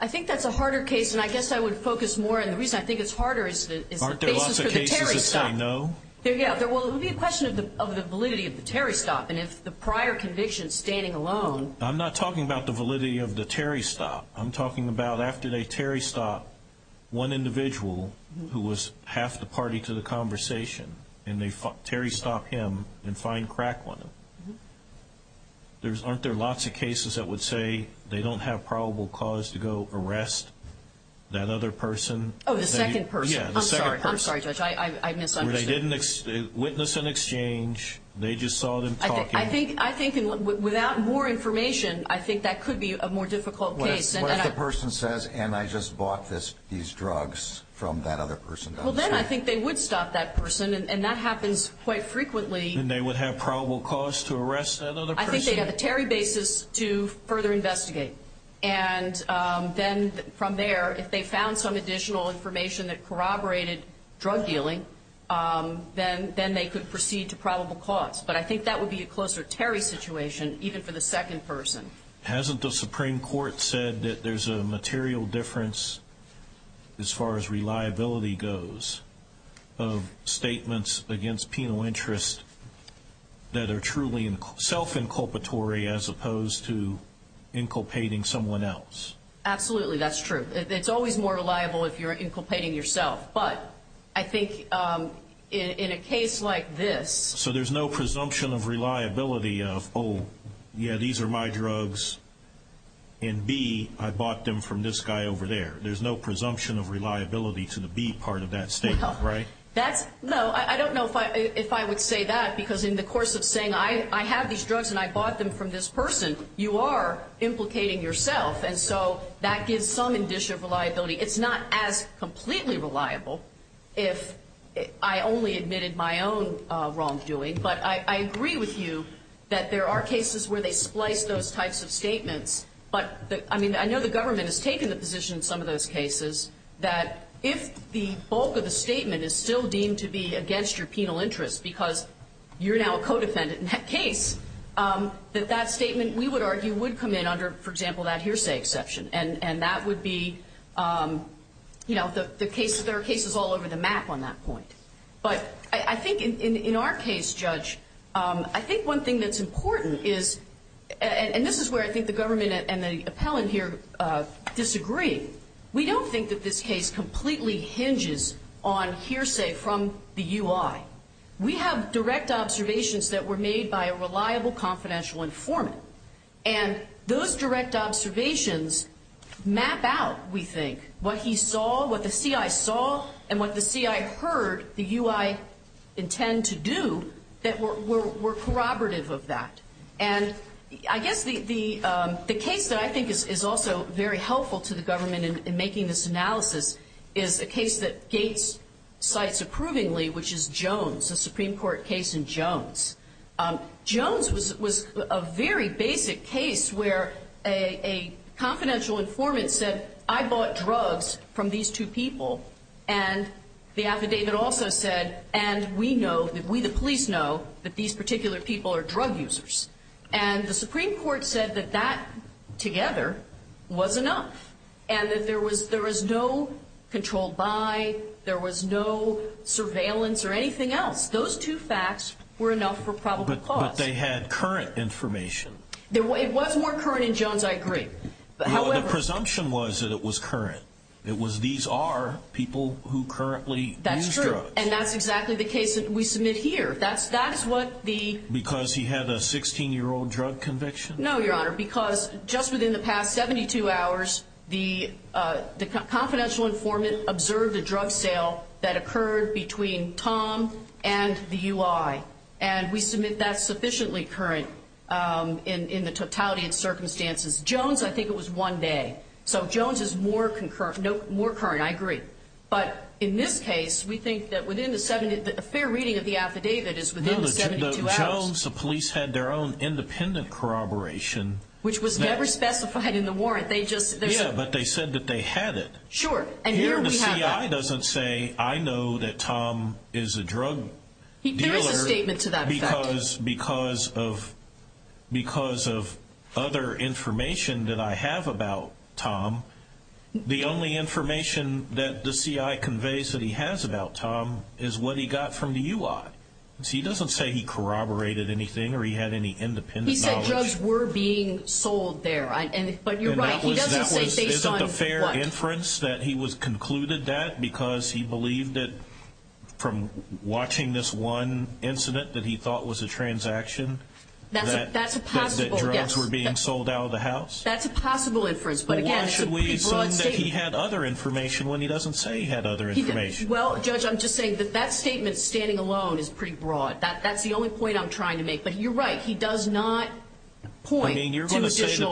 I think that's a harder case, and I guess I would focus more, and the reason I think it's harder is the basis for the terry-stop. Aren't there lots of cases that say no? Yeah, well, it would be a question of the validity of the terry-stop, and if the prior conviction, standing alone. I'm not talking about the validity of the terry-stop. I'm talking about after they terry-stop one individual who was half the party to the conversation, and they terry-stop him and find crack on him. Aren't there lots of cases that would say they don't have probable cause to go arrest that other person? Oh, the second person. Yeah, the second person. I'm sorry. I'm sorry, Judge. I misunderstood. They didn't witness an exchange. They just saw them talking. I think without more information, I think that could be a more difficult case. What if the person says, and I just bought these drugs from that other person? Well, then I think they would stop that person, and that happens quite frequently. And they would have probable cause to arrest that other person? I think they have a terry basis to further investigate, and then from there, if they found some additional information that corroborated drug dealing, then they could proceed to probable cause. But I think that would be a closer terry situation, even for the second person. Hasn't the Supreme Court said that there's a material difference, as far as reliability goes, of statements against penal interest that are truly self-inculpatory as opposed to inculpating someone else? Absolutely, that's true. It's always more reliable if you're inculpating yourself. But I think in a case like this. So there's no presumption of reliability of, oh, yeah, these are my drugs, and B, I bought them from this guy over there. There's no presumption of reliability to the B part of that statement, right? No, I don't know if I would say that, because in the course of saying I have these drugs and I bought them from this person, you are implicating yourself. And so that gives some indicia of reliability. It's not as completely reliable if I only admitted my own wrongdoing. But I agree with you that there are cases where they splice those types of statements. But, I mean, I know the government has taken the position in some of those cases that if the bulk of the statement is still deemed to be against your penal interest because you're now a co-defendant in that case, that that statement, we would argue, would come in under, for example, that hearsay exception. And that would be, you know, there are cases all over the map on that point. But I think in our case, Judge, I think one thing that's important is, and this is where I think the government and the appellant here disagree. We don't think that this case completely hinges on hearsay from the UI. We have direct observations that were made by a reliable, confidential informant. And those direct observations map out, we think, what he saw, what the CI saw, and what the CI heard the UI intend to do that were corroborative of that. And I guess the case that I think is also very helpful to the government in making this analysis is a case that Gates cites approvingly, which is Jones, a Supreme Court case in Jones. Jones was a very basic case where a confidential informant said, I bought drugs from these two people. And the affidavit also said, and we know, we the police know, that these particular people are drug users. And the Supreme Court said that that, together, was enough. And that there was no control by, there was no surveillance or anything else. Those two facts were enough for probable cause. But they had current information. It was more current in Jones, I agree. The presumption was that it was current. It was these are people who currently use drugs. That's true. And that's exactly the case that we submit here. That's what the... Because he had a 16-year-old drug conviction? No, Your Honor, because just within the past 72 hours, the confidential informant observed a drug sale that occurred between Tom and the UI. And we submit that's sufficiently current in the totality of circumstances. Jones, I think it was one day. So Jones is more concurrent, more current, I agree. But in this case, we think that within the 70, a fair reading of the affidavit is within the 72 hours. No, the Jones, the police had their own independent corroboration. Which was never specified in the warrant. They just... Yeah, but they said that they had it. Sure. And here we have that. The CI doesn't say, I know that Tom is a drug dealer. There is a statement to that effect. Because of other information that I have about Tom, the only information that the CI conveys that he has about Tom is what he got from the UI. So he doesn't say he corroborated anything or he had any independent knowledge. He said drugs were being sold there. But you're right. He doesn't say based on what. That he was concluded that because he believed that from watching this one incident that he thought was a transaction. That's a possible. That drugs were being sold out of the house. That's a possible inference. But again. Why should we assume that he had other information when he doesn't say he had other information? Well, Judge, I'm just saying that that statement standing alone is pretty broad. That's the only point I'm trying to make. But you're right. He does not point to additional.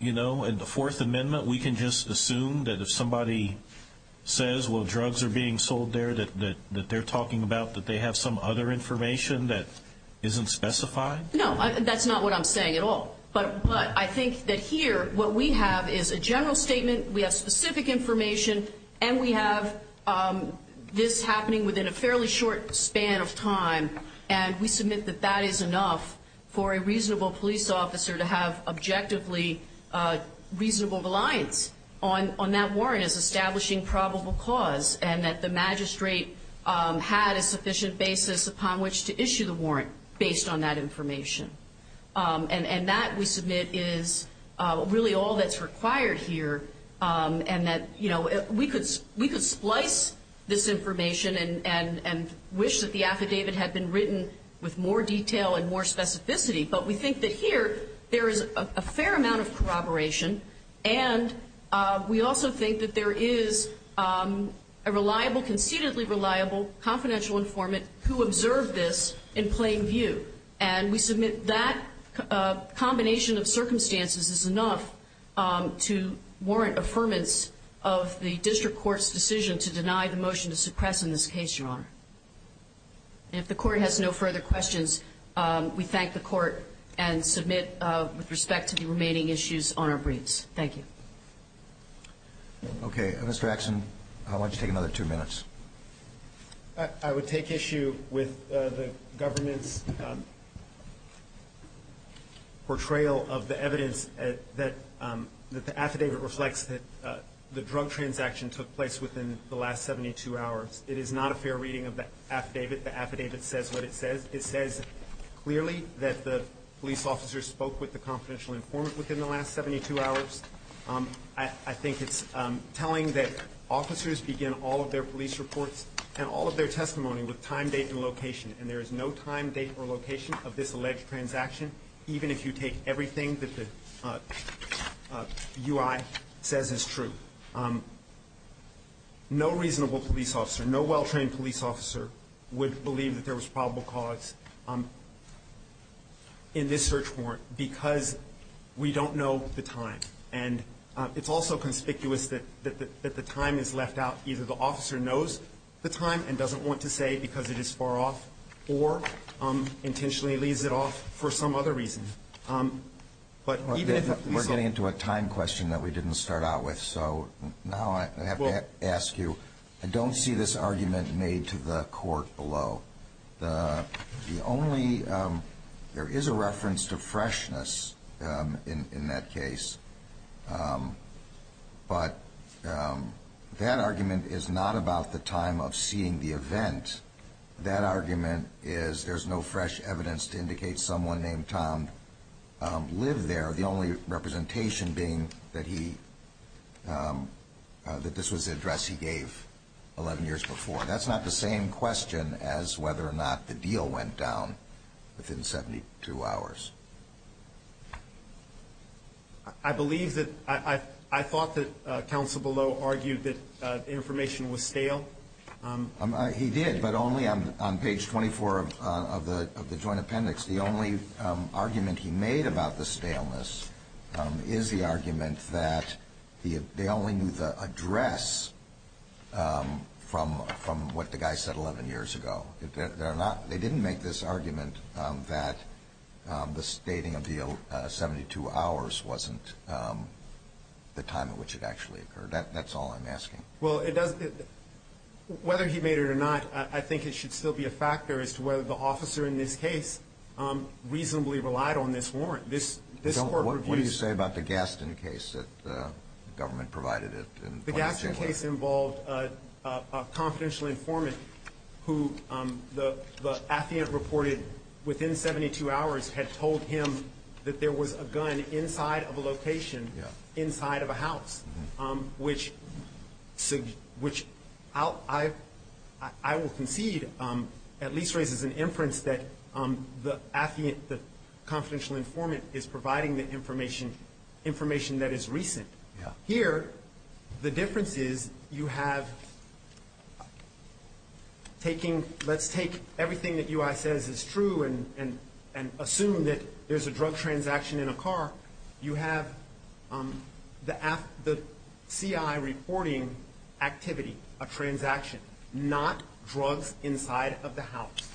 You know, in the Fourth Amendment, we can just assume that if somebody says, well, drugs are being sold there, that they're talking about that they have some other information that isn't specified. No, that's not what I'm saying at all. But I think that here what we have is a general statement. We have specific information. And we have this happening within a fairly short span of time. And we submit that that is enough for a reasonable police officer to have objectively reasonable reliance on that warrant as establishing probable cause. And that the magistrate had a sufficient basis upon which to issue the warrant based on that information. And that, we submit, is really all that's required here. And that, you know, we could splice this information and wish that the affidavit had been written with more detail and more specificity. But we think that here there is a fair amount of corroboration. And we also think that there is a reliable, concededly reliable, confidential informant who observed this in plain view. And we submit that combination of circumstances is enough to warrant affirmance of the district court's decision to deny the motion to suppress in this case, Your Honor. And if the court has no further questions, we thank the court and submit with respect to the remaining issues on our briefs. Thank you. Okay. Mr. Axon, I want you to take another two minutes. I would take issue with the government's portrayal of the evidence that the affidavit reflects that the drug transaction took place within the last 72 hours. It is not a fair reading of the affidavit. The affidavit says what it says. It says clearly that the police officer spoke with the confidential informant within the last 72 hours. I think it's telling that officers begin all of their police reports and all of their testimony with time, date, and location. And there is no time, date, or location of this alleged transaction, even if you take everything that the UI says is true. No reasonable police officer, no well-trained police officer would believe that there was probable cause in this search warrant because we don't know the time. And it's also conspicuous that the time is left out. Either the officer knows the time and doesn't want to say because it is far off or intentionally leaves it off for some other reason. But even if the police officer ---- We're getting into a time question that we didn't start out with, so now I have to ask you. I don't see this argument made to the court below. There is a reference to freshness in that case, but that argument is not about the time of seeing the event. That argument is there's no fresh evidence to indicate someone named Tom lived there, the only representation being that this was the address he gave 11 years before. That's not the same question as whether or not the deal went down within 72 hours. I believe that ---- I thought that counsel below argued that the information was stale. He did, but only on page 24 of the joint appendix. The only argument he made about the staleness is the argument that they only knew the address from what the guy said 11 years ago. They didn't make this argument that the stating of the 72 hours wasn't the time at which it actually occurred. That's all I'm asking. Well, whether he made it or not, I think it should still be a factor as to whether the officer in this case reasonably relied on this warrant. What do you say about the Gaston case that the government provided? The Gaston case involved a confidential informant who the affiant reported within 72 hours had told him that there was a gun inside of a location, inside of a house, which I will concede at least raises an inference that the confidential informant is providing the information that is recent. Here, the difference is you have taking ---- let's take everything that UI says is true and assume that there's a drug transaction in a car. You have the CI reporting activity, a transaction, not drugs inside of the house.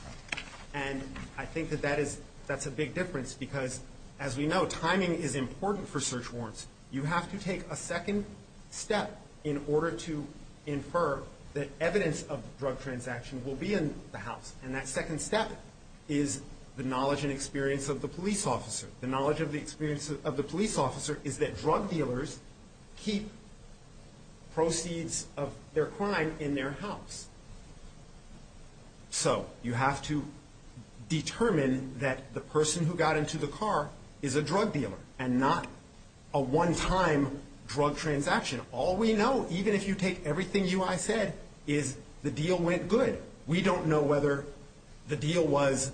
And I think that that's a big difference because, as we know, timing is important for search warrants. You have to take a second step in order to infer that evidence of drug transaction will be in the house. And that second step is the knowledge and experience of the police officer. The knowledge of the experience of the police officer is that drug dealers keep proceeds of their crime in their house. So you have to determine that the person who got into the car is a drug dealer and not a one-time drug transaction. All we know, even if you take everything UI said, is the deal went good. We don't know whether the deal was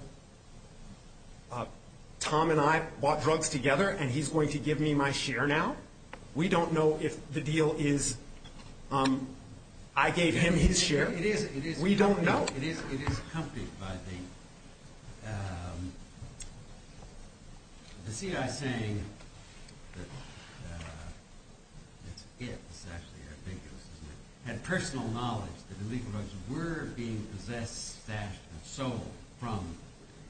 Tom and I bought drugs together and he's going to give me my share now. We don't know if the deal is I gave him his share. We don't know. It is, it is accompanied by the CI saying that it had personal knowledge that illegal drugs were being possessed, stashed and sold from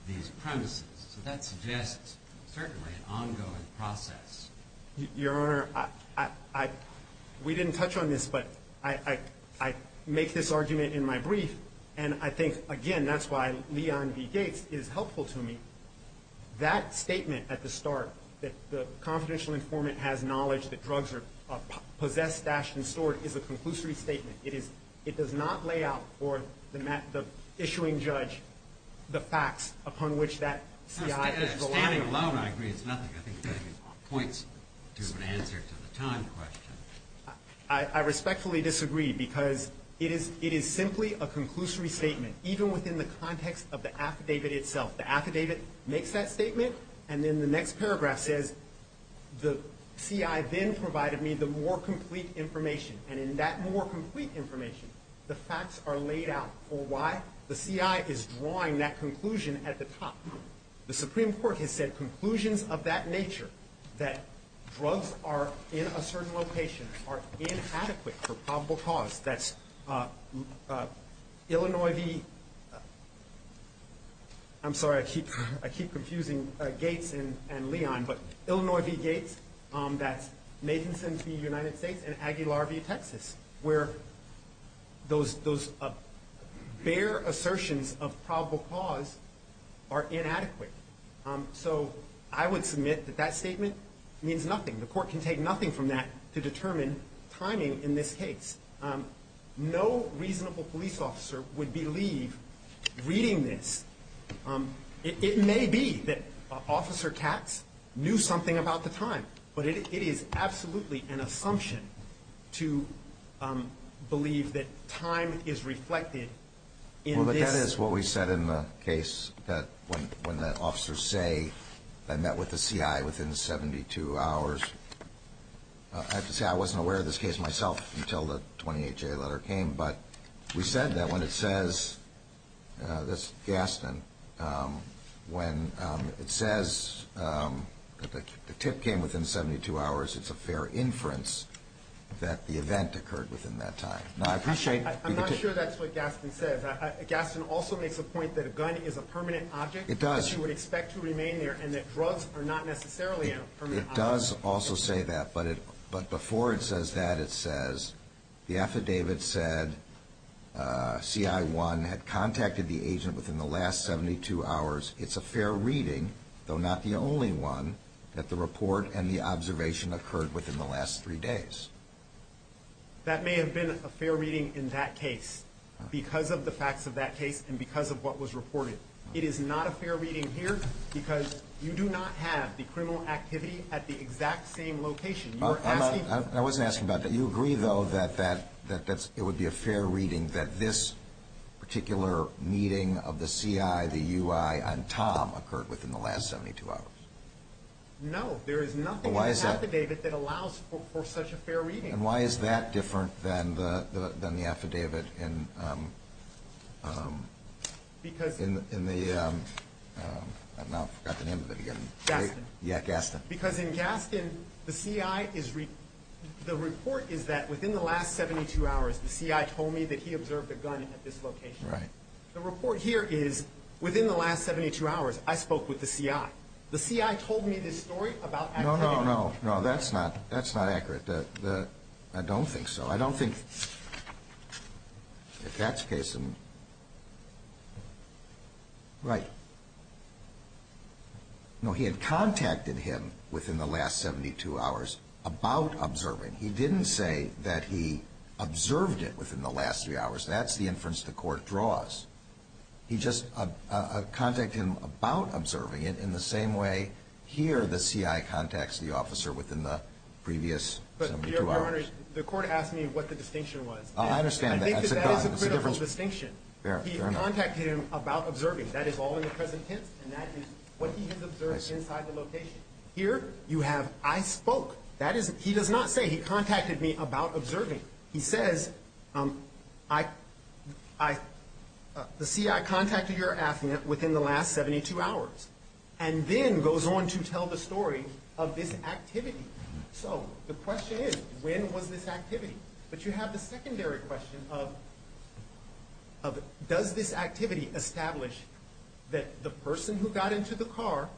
these premises. So that suggests certainly an ongoing process. Your Honor, we didn't touch on this, but I make this argument in my brief. And I think, again, that's why Leon B. Gates is helpful to me. That statement at the start that the confidential informant has knowledge that drugs are possessed, stashed and stored is a conclusory statement. It does not lay out for the issuing judge the facts upon which that CI is reliable. Standing alone, I agree, it's nothing. I think it points to an answer to the time question. I respectfully disagree because it is simply a conclusory statement, even within the context of the affidavit itself. The affidavit makes that statement and then the next paragraph says the CI then provided me the more complete information. And in that more complete information, the facts are laid out for why the CI is drawing that conclusion at the top. The Supreme Court has said conclusions of that nature, that drugs are in a certain location, are inadequate for probable cause, that's Illinois v. I'm sorry, I keep confusing Gates and Leon, but Illinois v. Gates, that's Nathanson v. United States and Aguilar v. Texas, where those bare assertions of probable cause are inadequate. So I would submit that that statement means nothing. The court can take nothing from that to determine timing in this case. No reasonable police officer would believe reading this. It may be that Officer Katz knew something about the time, but it is absolutely an assumption to believe that time is reflected in this. Well, but that is what we said in the case that when the officers say I met with the CI within 72 hours, I have to say I wasn't aware of this case myself until the 28-J letter came, but we said that when it says, this Gaston, when it says that the tip came within 72 hours, it's a fair inference that the event occurred within that time. I'm not sure that's what Gaston says. Gaston also makes the point that a gun is a permanent object. It does. That you would expect to remain there and that drugs are not necessarily a permanent object. It does also say that, but before it says that, it says the affidavit said CI1 had contacted the agent within the last 72 hours. It's a fair reading, though not the only one, that the report and the observation occurred within the last three days. That may have been a fair reading in that case because of the facts of that case and because of what was reported. It is not a fair reading here because you do not have the criminal activity at the exact same location. I wasn't asking about that. You agree, though, that it would be a fair reading that this particular meeting of the CI, the UI, and Tom occurred within the last 72 hours? There is nothing in the affidavit that allows for such a fair reading. And why is that different than the affidavit in the, I forgot the name of it again. Gaston. Yeah, Gaston. Because in Gaston, the report is that within the last 72 hours, the CI told me that he observed a gun at this location. Right. The report here is within the last 72 hours, I spoke with the CI. The CI told me this story about activity. No, no, no. That's not accurate. I don't think so. I don't think that that's the case. Right. No, he had contacted him within the last 72 hours about observing. He didn't say that he observed it within the last three hours. That's the inference the Court draws. He just contacted him about observing it in the same way here the CI contacts the officer within the previous 72 hours. But, Your Honor, the Court asked me what the distinction was. I understand that. I think that that is a critical distinction. Fair enough. He contacted him about observing. That is all in the present tense, and that is what he has observed inside the location. Here you have I spoke. He does not say he contacted me about observing. He says, the CI contacted your affidavit within the last 72 hours, and then goes on to tell the story of this activity. So the question is, when was this activity? But you have the secondary question of, does this activity establish that the person who got into the car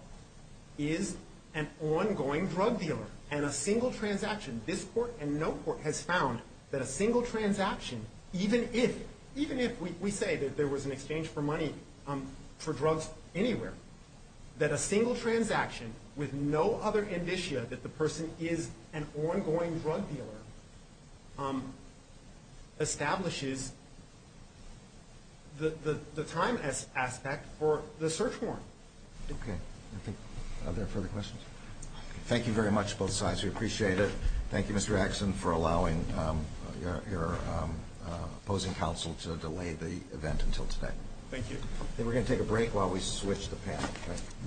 is an ongoing drug dealer, and a single transaction, this Court and no court has found that a single transaction, even if we say that there was an exchange for money for drugs anywhere, that a single transaction with no other indicia that the person is an ongoing drug dealer establishes the time aspect for the search warrant. Okay. Are there further questions? Thank you very much, both sides. We appreciate it. Thank you, Mr. Axson, for allowing your opposing counsel to delay the event until today. Thank you. We're going to take a break while we switch the panel.